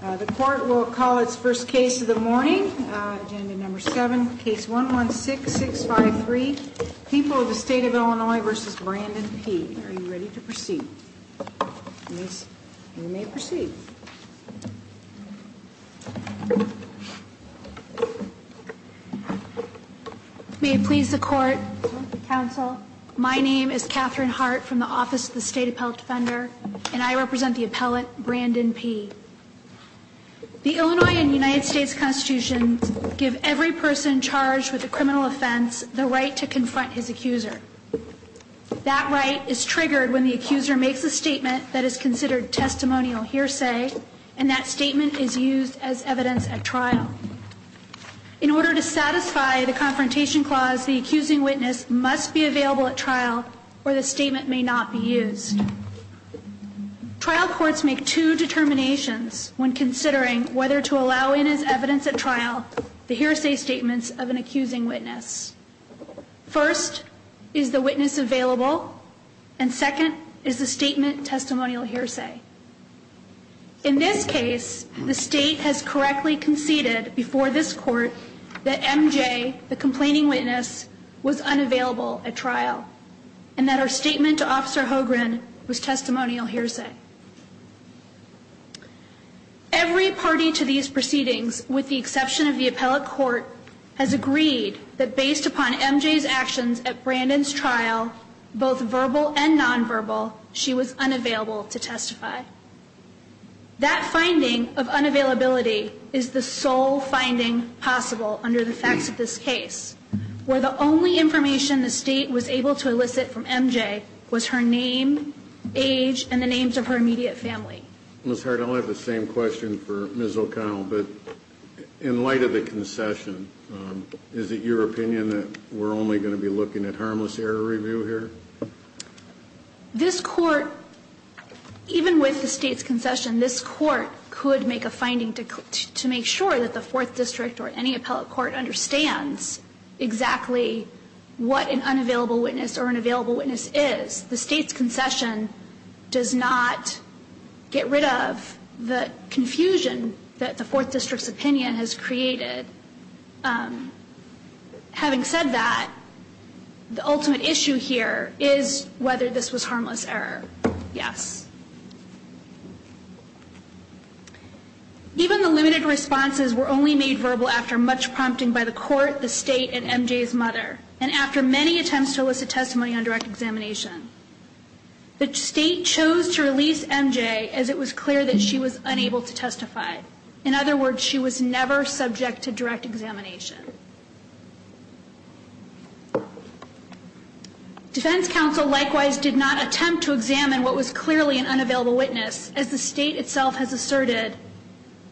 The court will call its first case of the morning. Agenda number 7, case 116653, People of the State of Illinois v. Brandon P. Are you ready to proceed? You may proceed. May it please the court, counsel, my name is Catherine Hart from the Office of the State Appellate Defender, and I represent the appellant, Brandon P. The Illinois and United States Constitution give every person charged with a criminal offense the right to confront his accuser. That right is triggered when the accuser makes a statement that is considered testimonial hearsay, and that statement is used as evidence at trial. In order to satisfy the confrontation clause, the accusing witness must be available at trial, or the statement may not be used. Trial courts make two determinations when considering whether to allow in as evidence at trial the hearsay statements of an accusing witness. First, is the witness available? And second, is the statement testimonial hearsay? In this case, the state has correctly conceded before this court that MJ, the complaining witness, was unavailable at trial, and that her statement to Officer Hogren was testimonial hearsay. Every party to these proceedings, with the exception of the appellate court, has agreed that based upon MJ's actions at Brandon's trial, both verbal and nonverbal, she was unavailable to testify. That finding of unavailability is the sole finding possible under the facts of this case, where the only information the state was able to elicit from MJ was her name, age, and the names of her immediate family. Ms. Hart, I'll have the same question for Ms. O'Connell, but in light of the concession, is it your opinion that we're only going to be looking at harmless error review here? This court, even with the state's concession, this court could make a finding to make sure that the 4th District or any appellate court understands exactly what an unavailable witness or an available witness is. The state's concession does not get rid of the confusion that the 4th District's opinion has created. Having said that, the ultimate issue here is whether this was harmless error. Yes. Even the limited responses were only made verbal after much prompting by the court, the state, and MJ's mother, and after many attempts to elicit testimony on direct examination. The state chose to release MJ as it was clear that she was unable to testify. In other words, she was never subject to direct examination. Defense counsel likewise did not attempt to examine what was clearly an unavailable witness, as the state itself has asserted.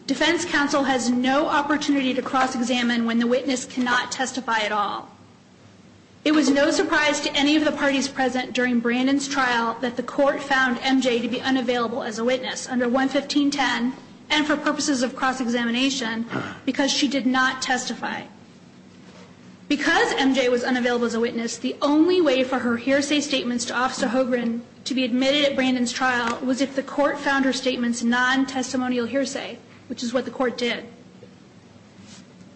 Defense counsel has no opportunity to cross-examine when the witness cannot testify at all. It was no surprise to any of the parties present during Brandon's trial that the court found MJ to be unavailable as a witness under 11510, and for purposes of cross-examination, because she did not testify. Because MJ was unavailable as a witness, the only way for her hearsay statements to Officer Hogan to be admitted at Brandon's trial was if the court found her statements non-testimonial hearsay, which is what the court did.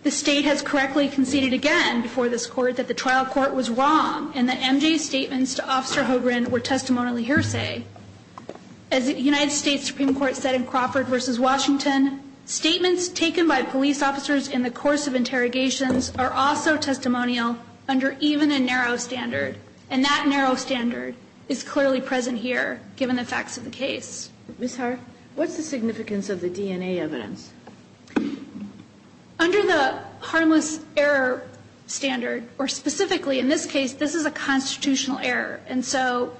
The state has correctly conceded again before this court that the trial court was wrong, and that MJ's statements to Officer Hogan were testimonially hearsay. As the United States Supreme Court said in Crawford v. Washington, statements taken by police officers in the course of interrogations are also testimonial under even a narrow standard, and that narrow standard is clearly present here, given the facts of the case. Ms. Hart, what's the significance of the DNA evidence? Under the harmless error standard, or specifically in this case, this is a constitutional error. And so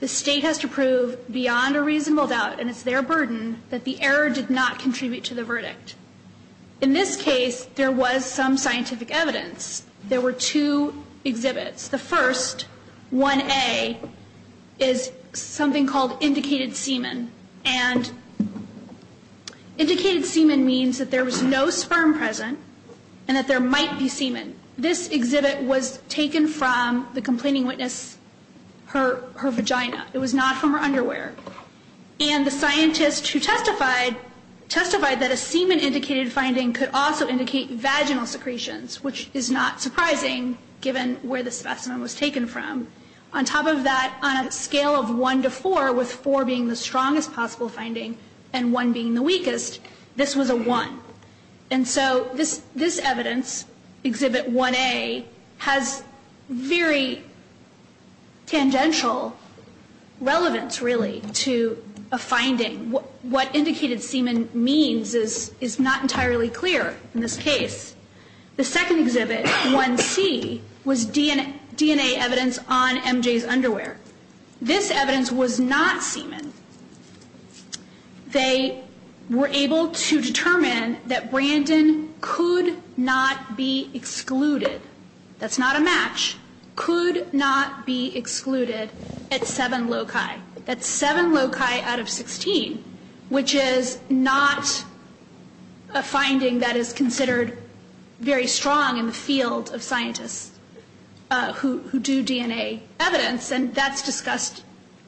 the state has to prove beyond a reasonable doubt, and it's their burden, that the error did not contribute to the verdict. In this case, there was some scientific evidence. There were two exhibits. The first, 1A, is something called indicated semen. And indicated semen means that there was no sperm present and that there might be semen. This exhibit was taken from the complaining witness, her vagina. It was not from her underwear. And the scientist who testified testified that a semen-indicated finding could also indicate vaginal secretions, which is not surprising, given where the specimen was taken from. On top of that, on a scale of 1 to 4, with 4 being the strongest possible finding and 1 being the weakest, this was a 1. And so this evidence, exhibit 1A, has very tangential relevance, really, to a finding. What indicated semen means is not entirely clear in this case. The second exhibit, 1C, was DNA evidence on MJ's underwear. This evidence was not semen. They were able to determine that Brandon could not be excluded. That's not a match. Could not be excluded at 7 loci. That's 7 loci out of 16, which is not a finding that is considered very strong in the field of scientists who do DNA evidence. And that's discussed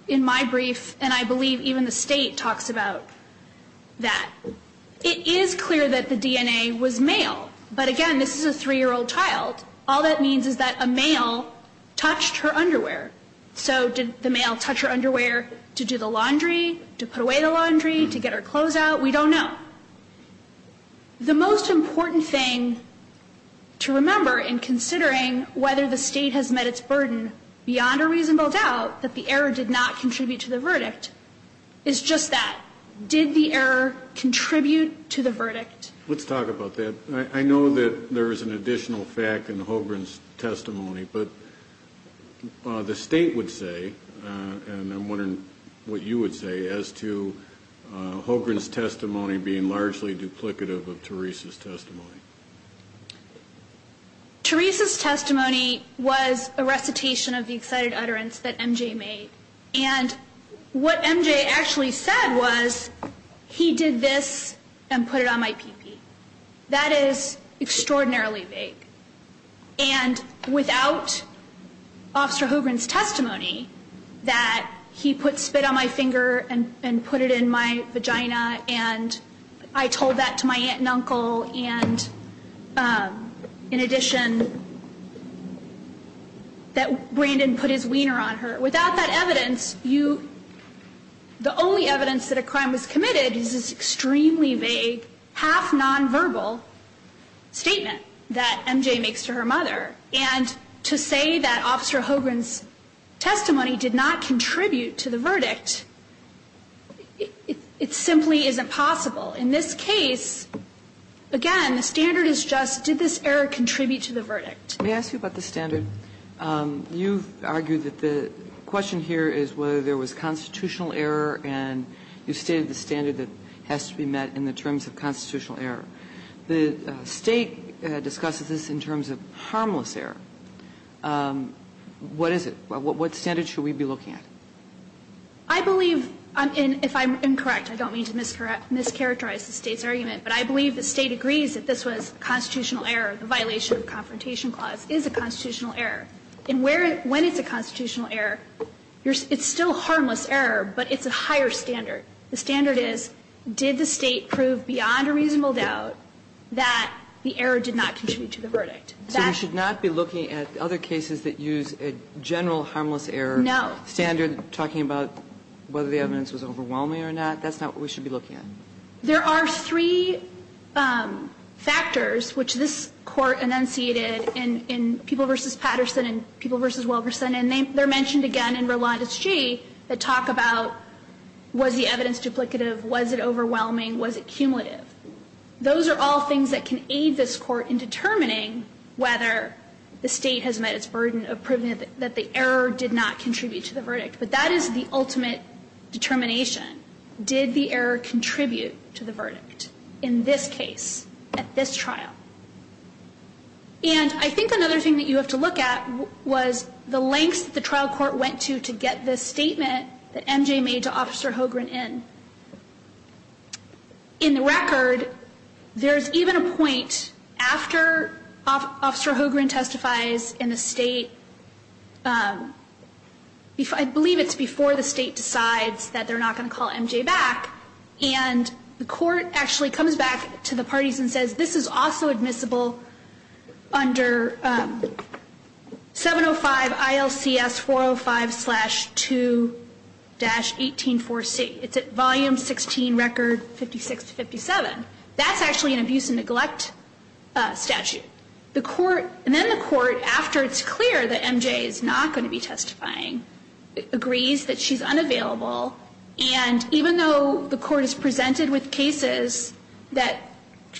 in my brief, and I believe even the State talks about that. It is clear that the DNA was male. But again, this is a 3-year-old child. All that means is that a male touched her underwear. So did the male touch her underwear to do the laundry, to put away the laundry, to get her clothes out? We don't know. The most important thing to remember in considering whether the State has met its burden, beyond a reasonable doubt, that the error did not contribute to the verdict, is just that. Did the error contribute to the verdict? Let's talk about that. I know that there is an additional fact in Hogren's testimony. But the State would say, and I'm wondering what you would say, as to Hogren's testimony being largely duplicative of Teresa's testimony. Teresa's testimony was a recitation of the excited utterance that MJ made. And what MJ actually said was, he did this and put it on my pee-pee. That is extraordinarily vague. And without Officer Hogren's testimony, that he put spit on my finger and put it in my vagina, and I told that to my aunt and uncle, and in addition, that Brandon put his wiener on her. Without that evidence, the only evidence that a crime was committed is this extremely vague, half nonverbal statement that MJ makes to her mother. And to say that Officer Hogren's testimony did not contribute to the verdict, it simply isn't possible. In this case, again, the standard is just, did this error contribute to the verdict? Let me ask you about the standard. You've argued that the question here is whether there was constitutional error, and you've stated the standard that has to be met in the terms of constitutional error. The State discusses this in terms of harmless error. What is it? What standard should we be looking at? I believe, if I'm incorrect, I don't mean to mischaracterize the State's argument, but I believe the State agrees that this was constitutional error. The violation of the Confrontation Clause is a constitutional error. And when it's a constitutional error, it's still harmless error, but it's a higher standard. The standard is, did the State prove beyond a reasonable doubt that the error did not contribute to the verdict? So we should not be looking at other cases that use a general harmless error standard talking about whether the evidence was overwhelming or not? That's not what we should be looking at. There are three factors, which this Court enunciated in People v. Patterson and People v. Wilkerson, and they're mentioned again in Rolande's G that talk about was the evidence duplicative, was it overwhelming, was it cumulative? Those are all things that can aid this Court in determining whether the State has met its burden of proving that the error did not contribute to the verdict. But that is the ultimate determination. Did the error contribute to the verdict in this case, at this trial? And I think another thing that you have to look at was the lengths that the trial court went to to get this statement that MJ made to Officer Hogren in. In the record, there's even a point after Officer Hogren testifies in the State. I believe it's before the State decides that they're not going to call MJ back. And the Court actually comes back to the parties and says this is also admissible under 705 ILCS 405-2-184C. It's at Volume 16, Record 56-57. That's actually an abuse and neglect statute. And then the Court, after it's clear that MJ is not going to be testifying, agrees that she's unavailable. And even though the Court has presented with cases that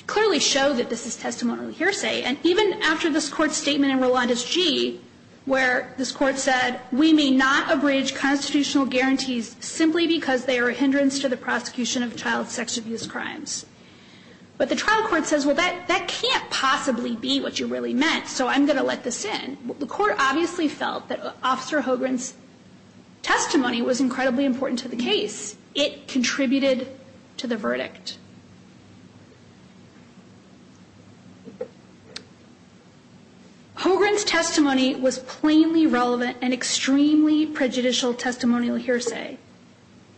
clearly show that this is testimonial hearsay, and even after this Court's statement in Rolanda's G, where this Court said we may not abridge constitutional guarantees simply because they are a hindrance to the prosecution of child sex abuse crimes. But the trial court says, well, that can't possibly be what you really meant, so I'm going to let this in. The Court obviously felt that Officer Hogren's testimony was incredibly important to the case. It contributed to the verdict. Hogren's testimony was plainly relevant and extremely prejudicial testimonial hearsay.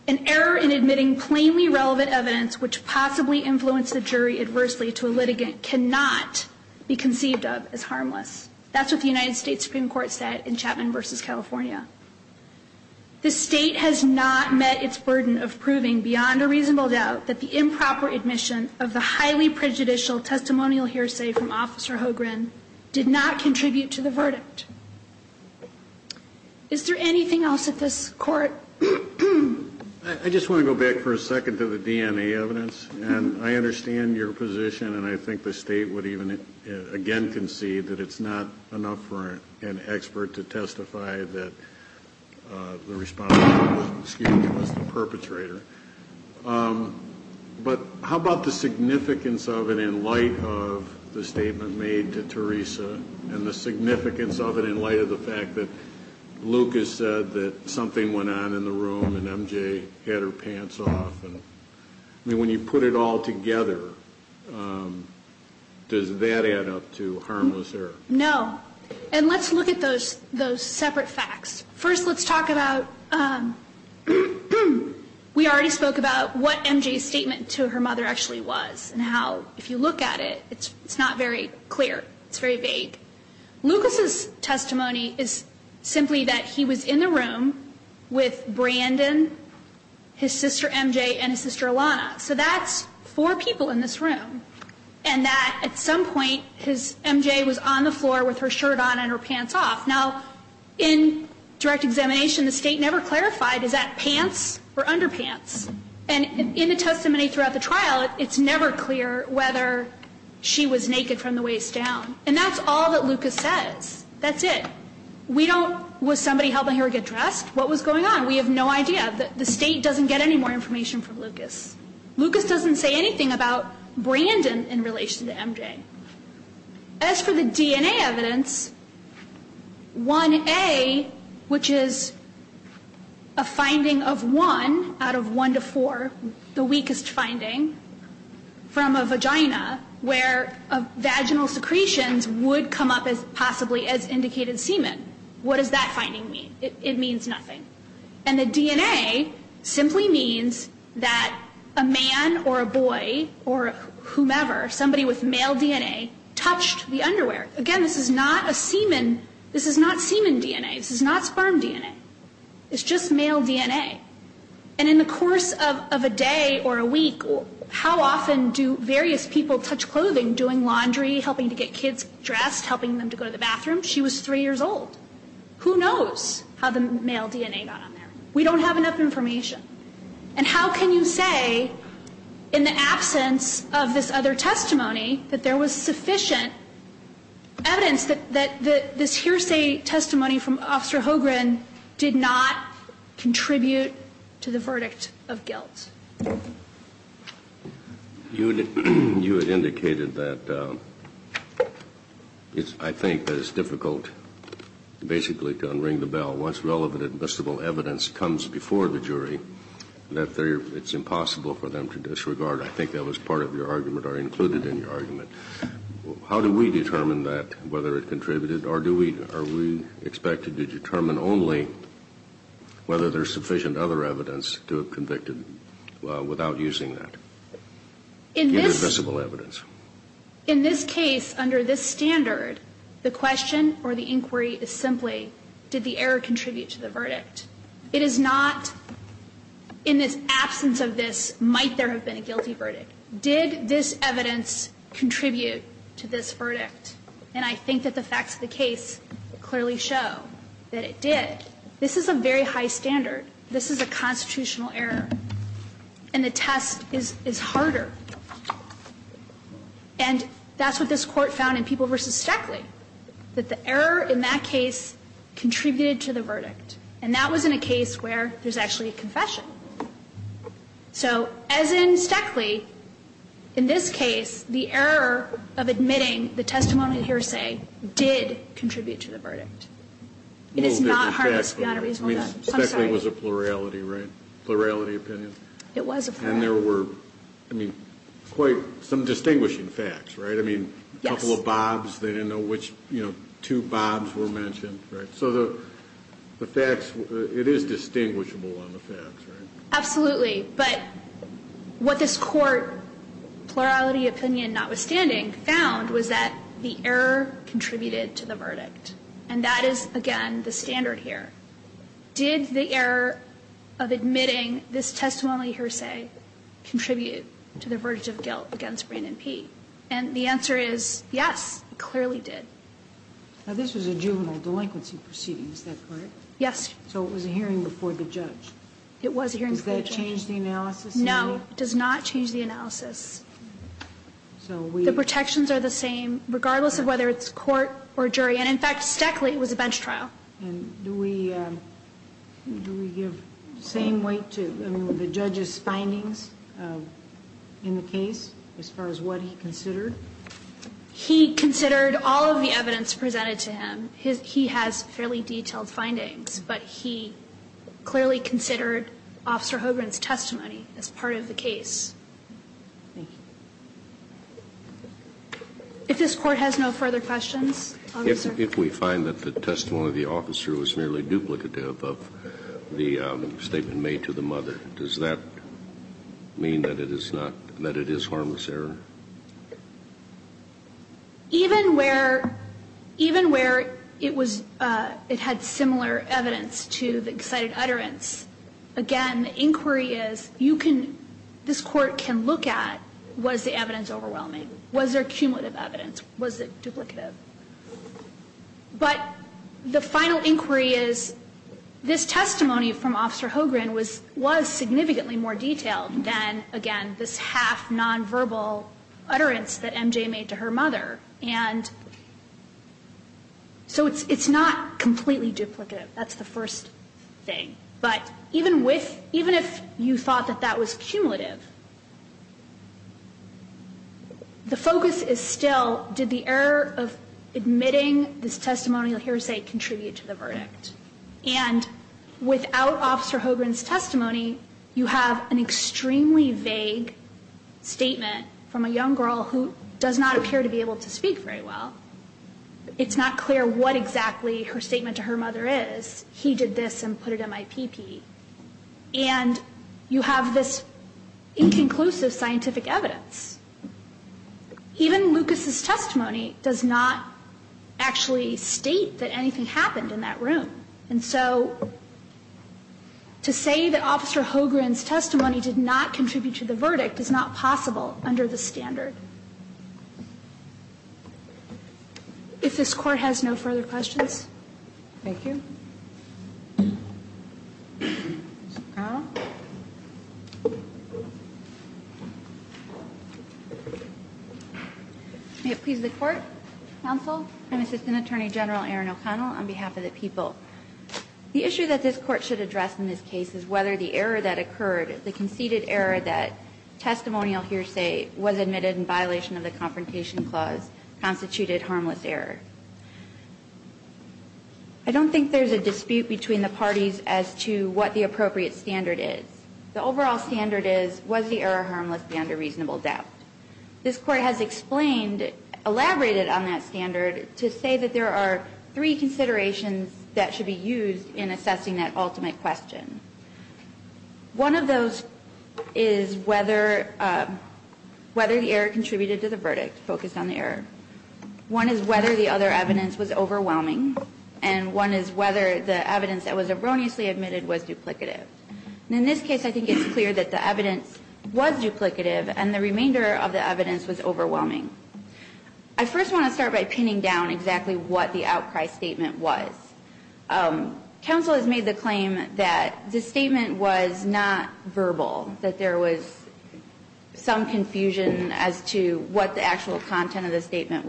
An error in admitting plainly relevant evidence which possibly influenced the jury adversely to a litigant cannot be conceived of as harmless. That's what the United States Supreme Court said in Chapman v. California. The State has not met its burden of proving beyond a reasonable doubt that the improper admission of the highly prejudicial testimonial hearsay from Officer Hogren did not contribute to the verdict. Is there anything else at this Court? I just want to go back for a second to the DNA evidence. And I understand your position, and I think the State would even again concede that it's not enough for an expert to testify that the responsible was the perpetrator. But how about the significance of it in light of the statement made to Teresa and the significance of it in light of the fact that Lucas said that something went on in the room and MJ had her pants off. I mean, when you put it all together, does that add up to harmless error? No. And let's look at those separate facts. First, let's talk about we already spoke about what MJ's statement to her mother actually was and how if you look at it, it's not very clear. It's very vague. Lucas's testimony is simply that he was in the room with Brandon, his sister MJ, and his sister Alana. So that's four people in this room and that at some point MJ was on the floor with her shirt on and her pants off. Now, in direct examination, the State never clarified, is that pants or underpants? And in the testimony throughout the trial, it's never clear whether she was naked from the waist down. And that's all that Lucas says. That's it. We don't, was somebody helping her get dressed? What was going on? We have no idea. The State doesn't get any more information from Lucas. Lucas doesn't say anything about Brandon in relation to MJ. As for the DNA evidence, 1A, which is a finding of 1 out of 1 to 4, the weakest finding, from a vagina where vaginal secretions would come up as possibly as indicated semen. What does that finding mean? It means nothing. And the DNA simply means that a man or a boy or whomever, somebody with male DNA, touched the underwear. Again, this is not a semen. This is not semen DNA. This is not sperm DNA. It's just male DNA. And in the course of a day or a week, how often do various people touch clothing, doing laundry, helping to get kids dressed, helping them to go to the bathroom? She was three years old. Who knows how the male DNA got on there? We don't have enough information. And how can you say, in the absence of this other testimony, that there was sufficient evidence that this hearsay testimony from Officer Hogren did not contribute to the verdict of guilt? You had indicated that I think that it's difficult, basically, to unring the bell once relevant admissible evidence comes before the jury, that it's impossible for them to disregard. I think that was part of your argument or included in your argument. How do we determine that, whether it contributed? Or are we expected to determine only whether there's sufficient other evidence to have convicted? Without using that invisible evidence. In this case, under this standard, the question or the inquiry is simply, did the error contribute to the verdict? It is not, in this absence of this, might there have been a guilty verdict. Did this evidence contribute to this verdict? And I think that the facts of the case clearly show that it did. This is a very high standard. This is a constitutional error. And the test is harder. And that's what this Court found in People v. Steckley, that the error in that case contributed to the verdict. And that was in a case where there's actually a confession. So as in Steckley, in this case, the error of admitting the testimony hearsay did contribute to the verdict. It is not a reasonable doubt. I'm sorry. Steckley was a plurality, right? Plurality opinion? It was a plurality. And there were, I mean, quite some distinguishing facts, right? Yes. I mean, a couple of bobs, they didn't know which two bobs were mentioned, right? So the facts, it is distinguishable on the facts, right? Absolutely. But what this Court, plurality opinion notwithstanding, found was that the error contributed to the verdict. And that is, again, the standard here. Did the error of admitting this testimony hearsay contribute to the verdict of guilt against Brandon P? And the answer is yes, it clearly did. Now, this was a juvenile delinquency proceeding, is that correct? Yes. So it was a hearing before the judge. It was a hearing before the judge. Does that change the analysis? No, it does not change the analysis. The protections are the same regardless of whether it's court or jury. And, in fact, Stackley was a bench trial. And do we give the same weight to the judge's findings in the case as far as what he considered? He considered all of the evidence presented to him. He has fairly detailed findings. But he clearly considered Officer Hogan's testimony as part of the case. Thank you. If we find that the testimony of the officer was merely duplicative of the statement made to the mother, does that mean that it is not, that it is harmless error? Even where, even where it was, it had similar evidence to the excited utterance, again, the inquiry is, you can, this Court can look at, was the evidence overwhelming? Was there cumulative evidence? Was it duplicative? But the final inquiry is, this testimony from Officer Hogan was, was significantly more detailed than, again, this half nonverbal utterance that MJ made to her mother. And so it's, it's not completely duplicative. That's the first thing. But even with, even if you thought that that was cumulative, the focus is still, did the error of admitting this testimonial hearsay contribute to the verdict? And without Officer Hogan's testimony, you have an extremely vague statement from a young girl who does not appear to be able to speak very well. It's not clear what exactly her statement to her mother is. He did this and put it in my pee pee. And you have this inconclusive scientific evidence. Even Lucas's testimony does not actually state that anything happened in that room. And so to say that Officer Hogan's testimony did not contribute to the verdict is not possible under the standard. If this Court has no further questions. Thank you. Ms. O'Connell. May it please the Court. Counsel. I'm Assistant Attorney General Erin O'Connell on behalf of the people. The issue that this Court should address in this case is whether the error that occurred, the conceded error that testimonial hearsay was admitted in violation of the Confrontation Clause constituted harmless error. I don't think there's a dispute between the parties as to what the appropriate standard is. The overall standard is was the error harmless beyond a reasonable doubt. This Court has explained, elaborated on that standard to say that there are three considerations that should be used in assessing that ultimate question. One of those is whether the error contributed to the verdict, focused on the error. One is whether the other evidence was overwhelming. And one is whether the evidence that was erroneously admitted was duplicative. In this case, I think it's clear that the evidence was duplicative and the remainder of the evidence was overwhelming. I first want to start by pinning down exactly what the outcry statement was. Counsel has made the claim that the statement was not verbal, that there was some content in the statement.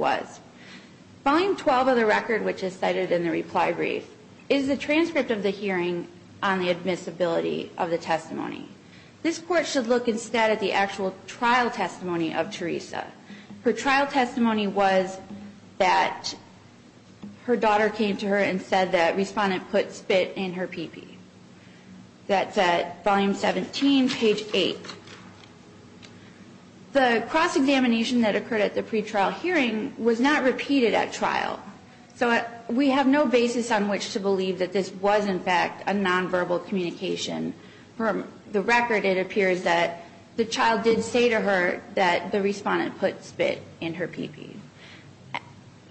Volume 12 of the record, which is cited in the reply brief, is the transcript of the hearing on the admissibility of the testimony. This Court should look instead at the actual trial testimony of Teresa. Her trial testimony was that her daughter came to her and said that respondent put spit in her pee-pee. That's at Volume 17, page 8. The cross-examination that occurred at the pretrial hearing was not repeated at trial. So we have no basis on which to believe that this was, in fact, a nonverbal communication. From the record, it appears that the child did say to her that the respondent put spit in her pee-pee.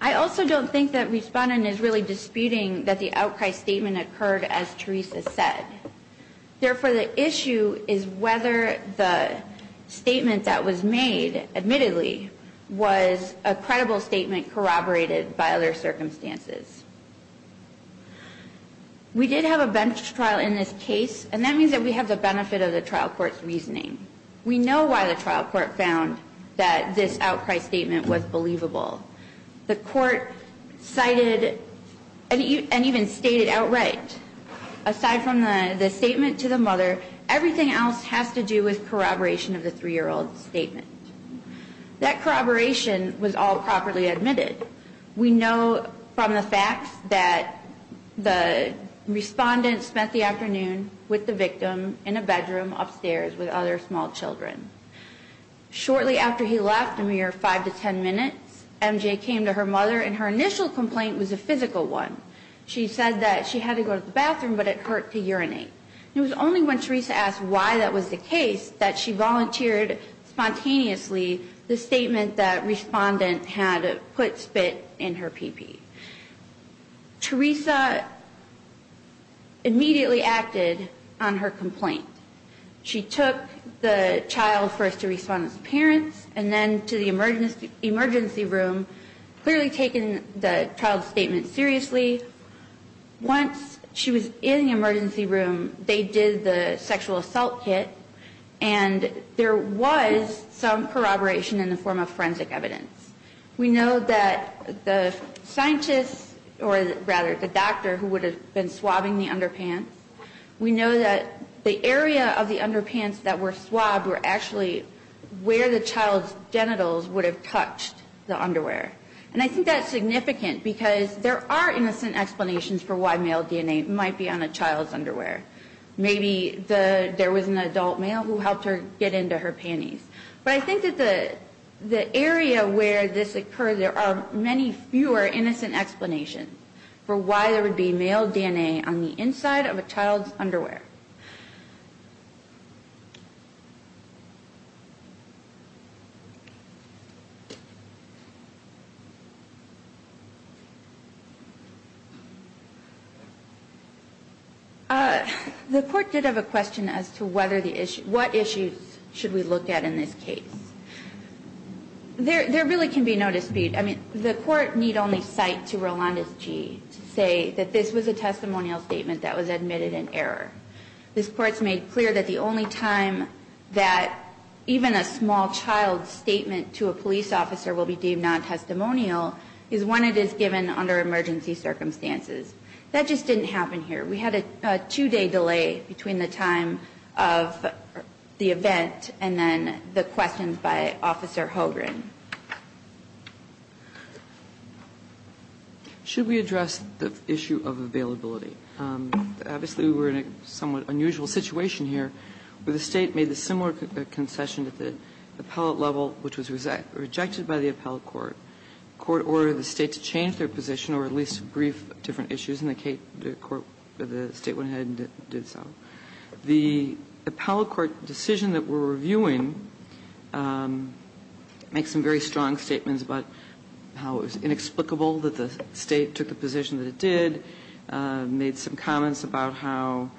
I also don't think that respondent is really disputing that the outcry statement occurred as Teresa said. Therefore, the issue is whether the statement that was made, admittedly, was a credible statement corroborated by other circumstances. We did have a bench trial in this case, and that means that we have the benefit of the trial court's reasoning. We know why the trial court found that this outcry statement was believable. The court cited and even stated outright, aside from the statement to the mother, everything else has to do with corroboration of the three-year-old statement. That corroboration was all properly admitted. We know from the facts that the respondent spent the afternoon with the victim in a bedroom upstairs with other small children. Shortly after he left, a mere five to ten minutes, MJ came to her mother, and her initial complaint was a physical one. She said that she had to go to the bathroom, but it hurt to urinate. It was only when Teresa asked why that was the case that she volunteered spontaneously the statement that respondent had put spit in her pee-pee. Teresa immediately acted on her complaint. She took the child first to respondent's parents, and then to the emergency room, clearly taking the child's statement seriously. Once she was in the emergency room, they did the sexual assault kit, and there was some corroboration in the form of forensic evidence. We know that the scientist, or rather the doctor who would have been swabbing the underpants, we know that the area of the underpants that were swabbed were actually where the child's genitals would have touched the underwear. And I think that's significant, because there are innocent explanations for why male DNA might be on a child's underwear. Maybe there was an adult male who helped her get into her panties. But I think that the area where this occurred, there are many fewer innocent explanations for why there would be male DNA on the inside of a child's underwear. The court did have a question as to what issues should we look at in this case. There really can be no dispute. I mean, the court need only cite to Rolandes-G to say that this was a testimonial statement that was admitted in error. This court's made clear that the only time that even a small child's statement to a police officer will be deemed non-testimonial is when it is given under emergency circumstances. That just didn't happen here. We had a two-day delay between the time of the event and then the questions by officer Hogan. Should we address the issue of availability? Obviously, we're in a somewhat unusual situation here where the State made a similar concession at the appellate level, which was rejected by the appellate court. The court ordered the State to change their position or at least brief different issues, and the State went ahead and did so. The appellate court decision that we're reviewing makes some very strong statements about how it was inexplicable that the State took the position that it did, made some comments about how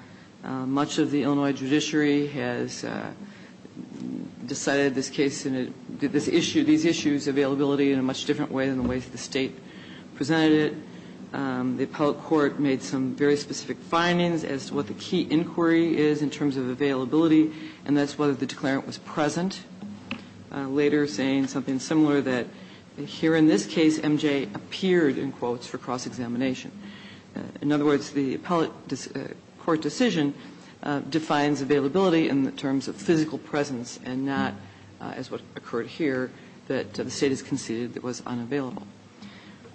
much of the Illinois judiciary has decided this case and did this issue, these issues availability in a much different way than the way the State presented it. The appellate court made some very specific findings as to what the key inquiry is in terms of availability, and that's whether the declarant was present, later saying something similar that, here in this case, M.J. appeared in quotes for cross-examination. In other words, the appellate court decision defines availability in the terms of physical presence and not, as what occurred here, that the State has conceded it was unavailable.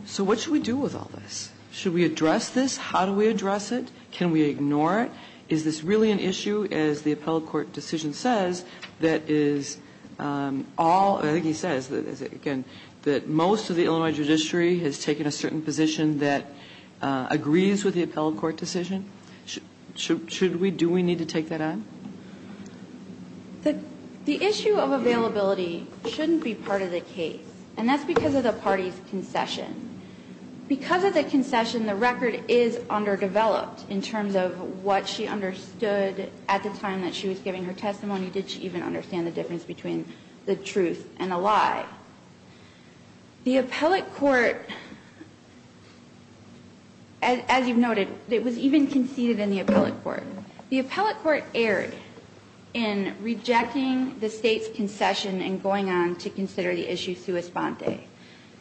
So what should we do with all this? Should we address this? How do we address it? Can we ignore it? Is this really an issue, as the appellate court decision says, that is all or I think he says, again, that most of the Illinois judiciary has taken a certain position that agrees with the appellate court decision? Should we, do we need to take that on? The issue of availability shouldn't be part of the case, and that's because of the State's concession. Because of the concession, the record is underdeveloped in terms of what she understood at the time that she was giving her testimony. Did she even understand the difference between the truth and a lie? The appellate court, as you've noted, it was even conceded in the appellate court. The appellate court erred in rejecting the State's concession and going on to consider the issue sua sponte.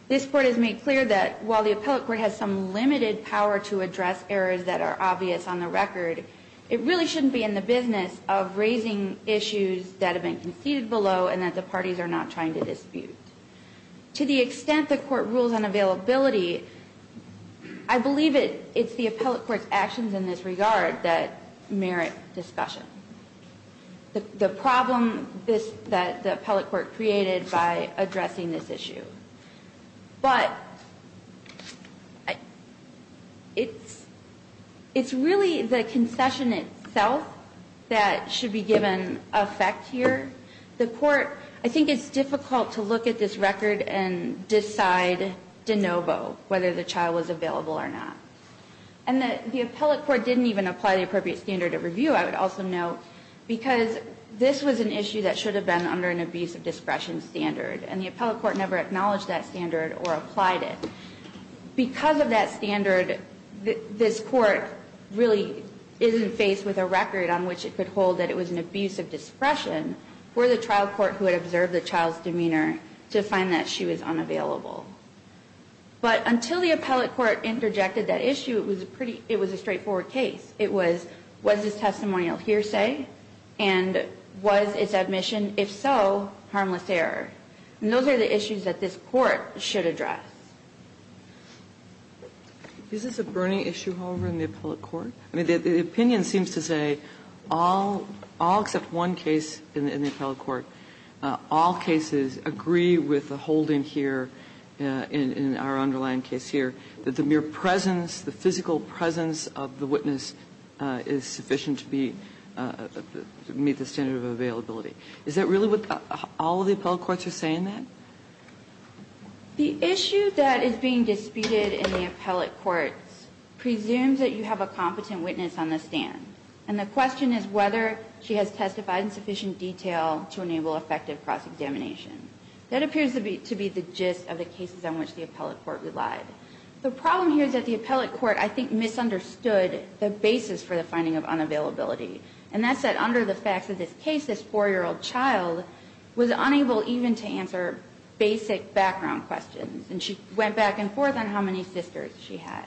This Court has made clear that while the appellate court has some limited power to address errors that are obvious on the record, it really shouldn't be in the business of raising issues that have been conceded below and that the parties are not trying to dispute. To the extent the court rules on availability, I believe it's the appellate court's actions in this regard that merit discussion. The problem that the appellate court created by addressing this issue. But it's really the concession itself that should be given effect here. The court, I think it's difficult to look at this record and decide de novo whether the child was available or not. And the appellate court didn't even apply the appropriate standard of review. I would also note, because this was an issue that should have been under an abuse of discretion standard. And the appellate court never acknowledged that standard or applied it. Because of that standard, this Court really isn't faced with a record on which it could hold that it was an abuse of discretion for the trial court who had observed the child's demeanor to find that she was unavailable. But until the appellate court interjected that issue, it was a straightforward case. It was, was this testimonial hearsay? And was its admission, if so, harmless error? And those are the issues that this Court should address. Is this a burning issue, however, in the appellate court? I mean, the opinion seems to say all, all except one case in the appellate court, all cases agree with the holding here, in our underlying case here, that the mere presence, the physical presence of the witness is sufficient to be, to meet the standard of availability. Is that really what all of the appellate courts are saying, then? The issue that is being disputed in the appellate courts presumes that you have a competent witness on the stand. And the question is whether she has testified in sufficient detail to enable effective cross-examination. That appears to be the gist of the cases on which the appellate court relied. The problem here is that the appellate court, I think, misunderstood the basis for the finding of unavailability. And that's that under the facts of this case, this 4-year-old child was unable even to answer basic background questions. And she went back and forth on how many sisters she had.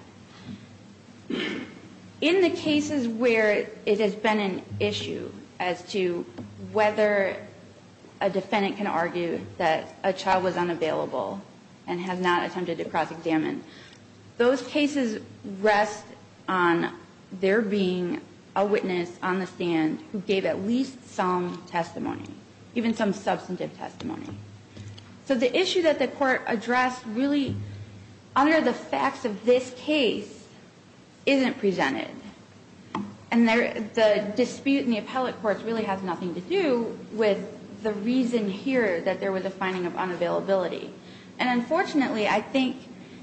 In the cases where it has been an issue as to whether a defendant can argue that a child was unavailable and has not attempted to cross-examine, those cases rest on there being a witness on the stand who gave at least some testimony, even some substantive testimony. So the issue that the Court addressed really, under the facts of this case, isn't presented. And the dispute in the appellate courts really has nothing to do with the reason here that there was a finding of unavailability. And unfortunately, I think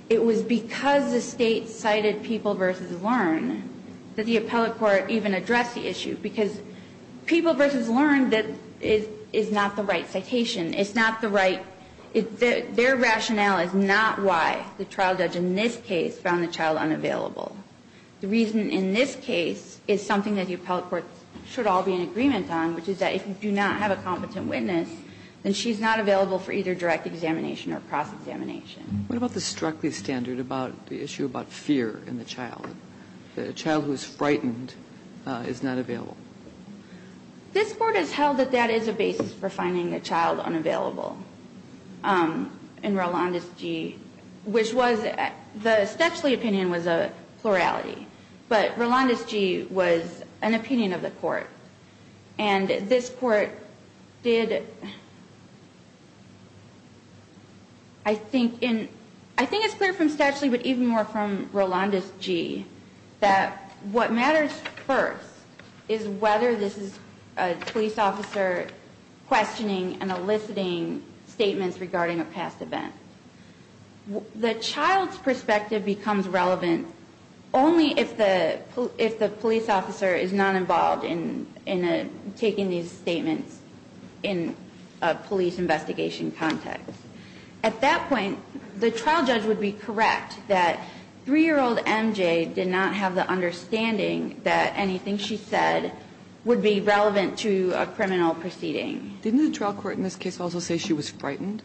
it was because the State cited People v. Learn that the appellate court even addressed the issue, because People v. Learn is not the right citation. It's not the right – their rationale is not why the trial judge in this case found the child unavailable. The reason in this case is something that the appellate courts should all be in agreement on, which is that if you do not have a competent witness, then she's not available for either direct examination or cross-examination. What about the Struckley standard about the issue about fear in the child, that a child who is frightened is not available? This Court has held that that is a basis for finding a child unavailable in Rolandes G., which was – the Stepsley opinion was a plurality, but Rolandes G. was an opinion of the Court. And this Court did – I think in – I think it's clear from Stepsley, but even more from Rolandes G., that what matters first is whether this is a police officer questioning and eliciting statements regarding a past event. The child's perspective becomes relevant only if the police officer is not involved in taking these statements in a police investigation context. At that point, the trial judge would be correct that 3-year-old MJ did not have the understanding that anything she said would be relevant to a criminal proceeding. Didn't the trial court in this case also say she was frightened?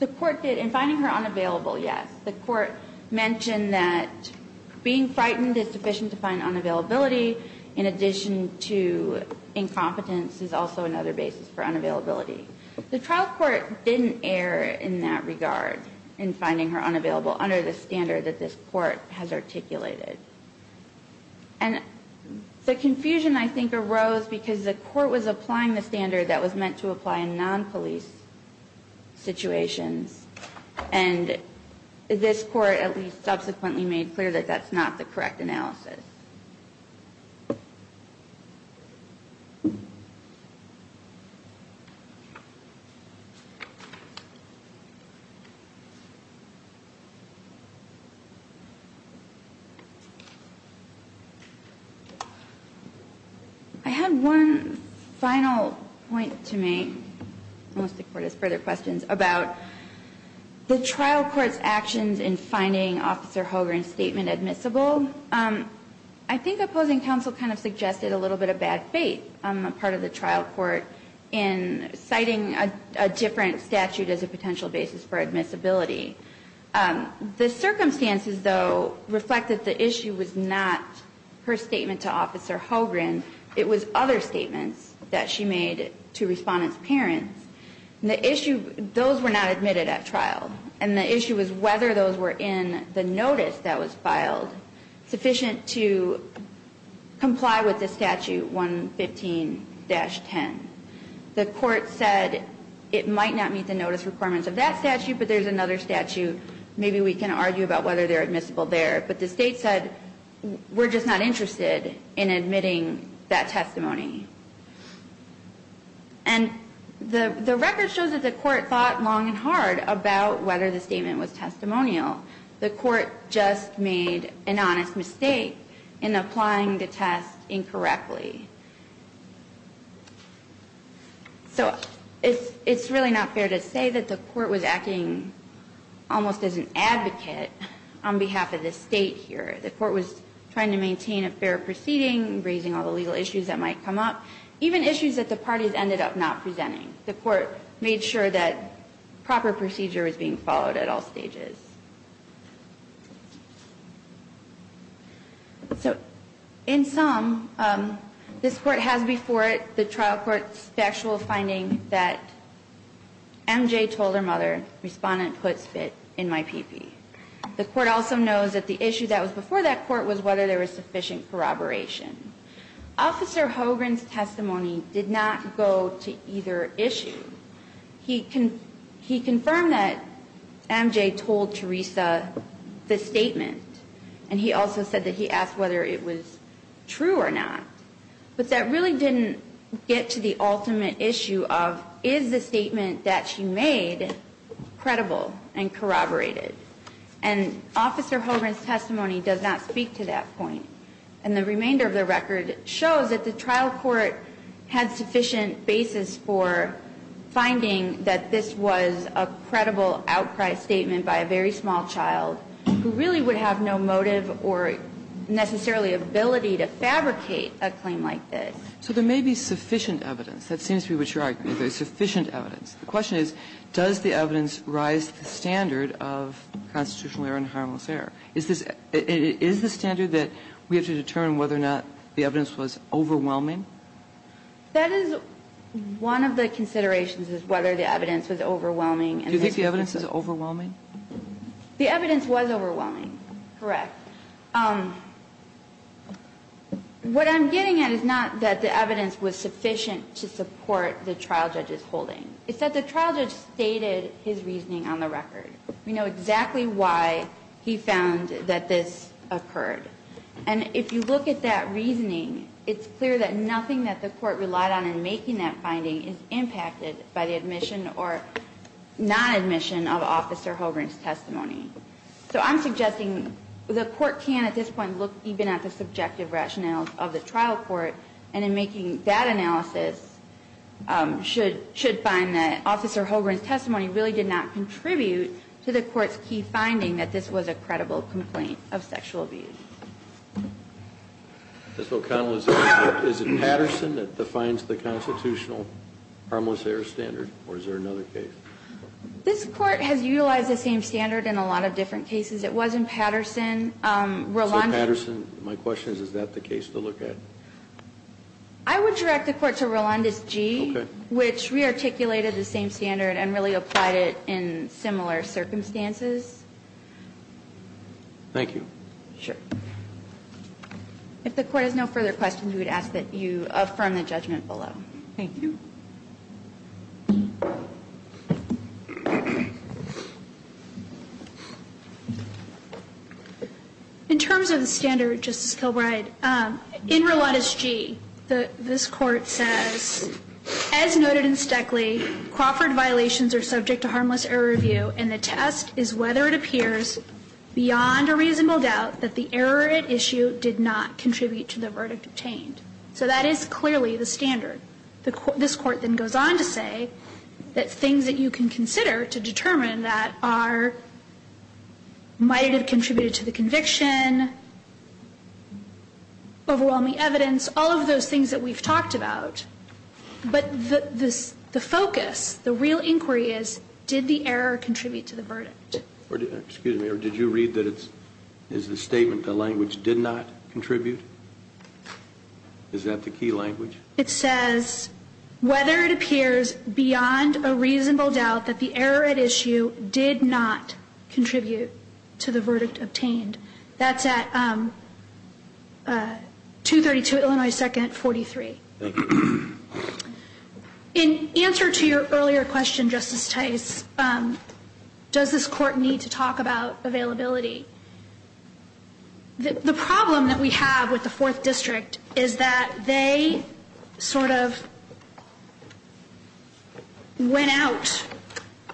The court did. In finding her unavailable, yes. The court mentioned that being frightened is sufficient to find unavailability in addition to incompetence is also another basis for unavailability. The trial court didn't err in that regard in finding her unavailable under the standard that this Court has articulated. And the confusion, I think, arose because the Court was applying the standard that was meant to apply in non-police situations, and this Court at least subsequently made clear that that's not the correct analysis. I had one final point to make, unless the Court has further questions, about the trial court's actions in finding Officer Hogan's statement admissible. I think opposing counsel kind of suggested a little bit of bad faith on the part of the trial court in citing a different statute as a potential basis for admissibility. The circumstances, though, reflected the issue was not her statement to Officer Hogan. It was other statements that she made to Respondent's parents. And the issue, those were not admitted at trial. And the issue was whether those were in the notice that was filed sufficient to comply with the statute 115-10. The Court said it might not meet the notice requirements of that statute, but there's another statute. Maybe we can argue about whether they're admissible there. But the State said we're just not interested in admitting that testimony. And the record shows that the Court thought long and hard about whether the statement was testimonial. The Court just made an honest mistake in applying the test incorrectly. So it's really not fair to say that the Court was acting almost as an advocate on behalf of the State here. The Court was trying to maintain a fair proceeding, raising all the legal issues that might come up, even issues that the parties ended up not presenting. The Court made sure that proper procedure was being followed at all stages. So in sum, this Court has before it the trial court's factual finding that MJ told her mother, Respondent put spit in my pee-pee. The Court also knows that the issue that was before that court was whether there was sufficient corroboration. Officer Hogan's testimony did not go to either issue. He confirmed that MJ told Teresa the statement. And he also said that he asked whether it was true or not. But that really didn't get to the ultimate issue of is the statement that she made credible and corroborated. And Officer Hogan's testimony does not speak to that point. And the remainder of the record shows that the trial court had sufficient basis for finding that this was a credible outcry statement by a very small child who really would have no motive or necessarily ability to fabricate a claim like this. So there may be sufficient evidence. That seems to be what you're arguing, that there's sufficient evidence. The question is, does the evidence rise to the standard of constitutional error and harmless error? Is this the standard that we have to determine whether or not the evidence was overwhelming? That is one of the considerations, is whether the evidence was overwhelming. Do you think the evidence is overwhelming? The evidence was overwhelming. Correct. What I'm getting at is not that the evidence was sufficient to support the trial judge's holding. It's that the trial judge stated his reasoning on the record. We know exactly why he found that this occurred. And if you look at that reasoning, it's clear that nothing that the court relied on in making that finding is impacted by the admission or non-admission of Officer Hogan's testimony. So I'm suggesting the court can at this point look even at the subjective rationales of the trial court, and in making that analysis, should find that Officer Hogan's testimony is not sufficient to support the trial judge's holding. And I think the evidence was overwhelming. So I would direct the court to the court's key finding that this was a credible complaint of sexual abuse. Is it Patterson that defines the constitutional harmless error standard? Or is there another case? This Court has utilized the same standard in a lot of different cases. It was in Patterson. So Patterson, my question is, is that the case to look at? I would direct the Court to Rolandes G. Okay. Which rearticulated the same standard and really applied it in similar circumstances. Thank you. Sure. If the Court has no further questions, we would ask that you affirm the judgment Thank you. In terms of the standard, Justice Kilbride, in Rolandes G, this Court says, as noted in Stoeckley, Crawford violations are subject to harmless error review, and the test is whether it appears beyond a reasonable doubt that the error at issue did not contribute to the verdict obtained. So that is clearly the standard. This Court then goes on to say that things that you can consider to determine that might have contributed to the conviction, overwhelming evidence, all of those things that we've talked about. But the focus, the real inquiry is, did the error contribute to the verdict? Excuse me. Did you read that it's the statement the language did not contribute? Is that the key language? It says, whether it appears beyond a reasonable doubt that the error at issue did not contribute to the verdict obtained. That's at 232 Illinois 2nd 43. In answer to your earlier question, Justice Tice, does this Court need to talk about availability? The problem that we have with the Fourth District is that they sort of went out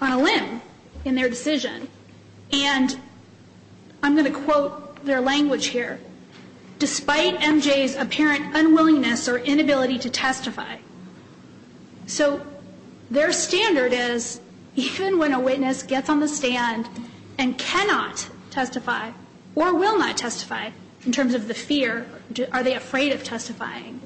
on a limb in their decision. And I'm going to quote their language here. Despite MJ's apparent unwillingness or inability to testify. So their standard is, even when a witness gets on the stand and cannot testify, or will not testify in terms of the fear, are they afraid of testifying?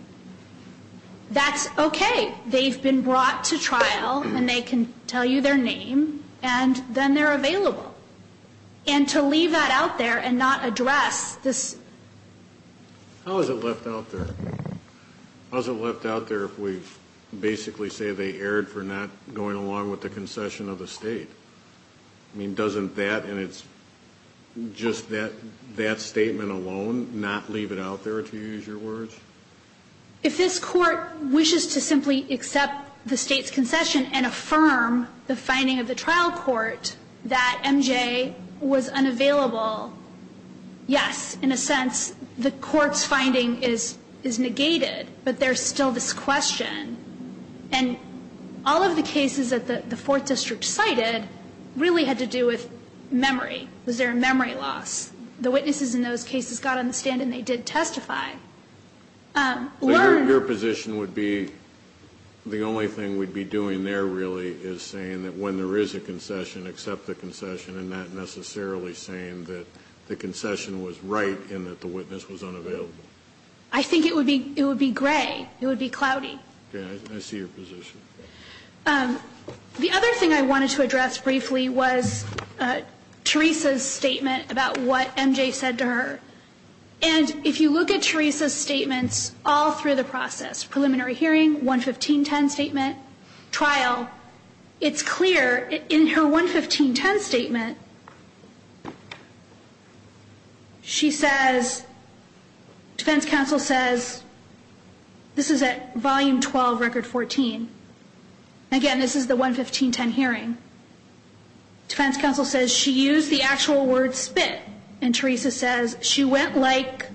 That's okay. They've been brought to trial, and they can tell you their name, and then they're available. And to leave that out there and not address this. How is it left out there? How is it left out there if we basically say they erred for not going along with the concession of the State? I mean, doesn't that, and it's just that statement alone, not leave it out there, to use your words? If this Court wishes to simply accept the State's concession and affirm the finding of the trial court that MJ was unavailable, yes. In a sense, the Court's finding is negated. But there's still this question. And all of the cases that the Fourth District cited really had to do with memory. Was there a memory loss? The witnesses in those cases got on the stand, and they did testify. Your position would be the only thing we'd be doing there, really, is saying that when there is a concession, accept the concession, and not necessarily saying that the concession was right and that the witness was unavailable. I think it would be gray. It would be cloudy. Okay. I see your position. The other thing I wanted to address briefly was Teresa's statement about what MJ said to her. And if you look at Teresa's statements all through the process, preliminary hearing, 11510 statement, trial, it's clear in her 11510 statement she says, defense counsel says, this is at volume 12, record 14. Again, this is the 11510 hearing. Defense counsel says she used the actual word spit. And Teresa says, she went like,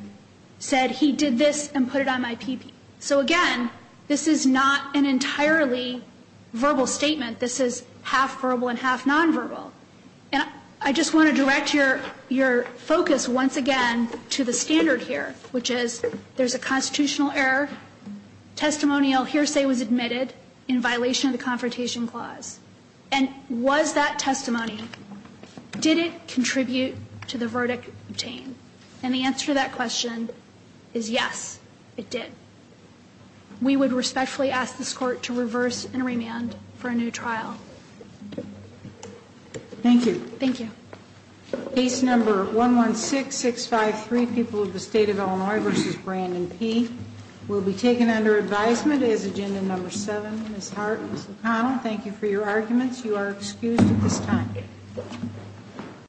said, he did this and put it on my PPE. So, again, this is not an entirely verbal statement. This is half verbal and half nonverbal. And I just want to direct your focus once again to the standard here, which is there's a constitutional error. Testimonial hearsay was admitted in violation of the Confrontation Clause. And was that testimony, did it contribute to the verdict obtained? And the answer to that question is yes, it did. We would respectfully ask this Court to reverse and remand for a new trial. Thank you. Thank you. Case number 116653, People of the State of Illinois v. Brandon P., will be taken under advisement as agenda number seven. Ms. Hart, Ms. O'Connell, thank you for your arguments. You are excused at this time.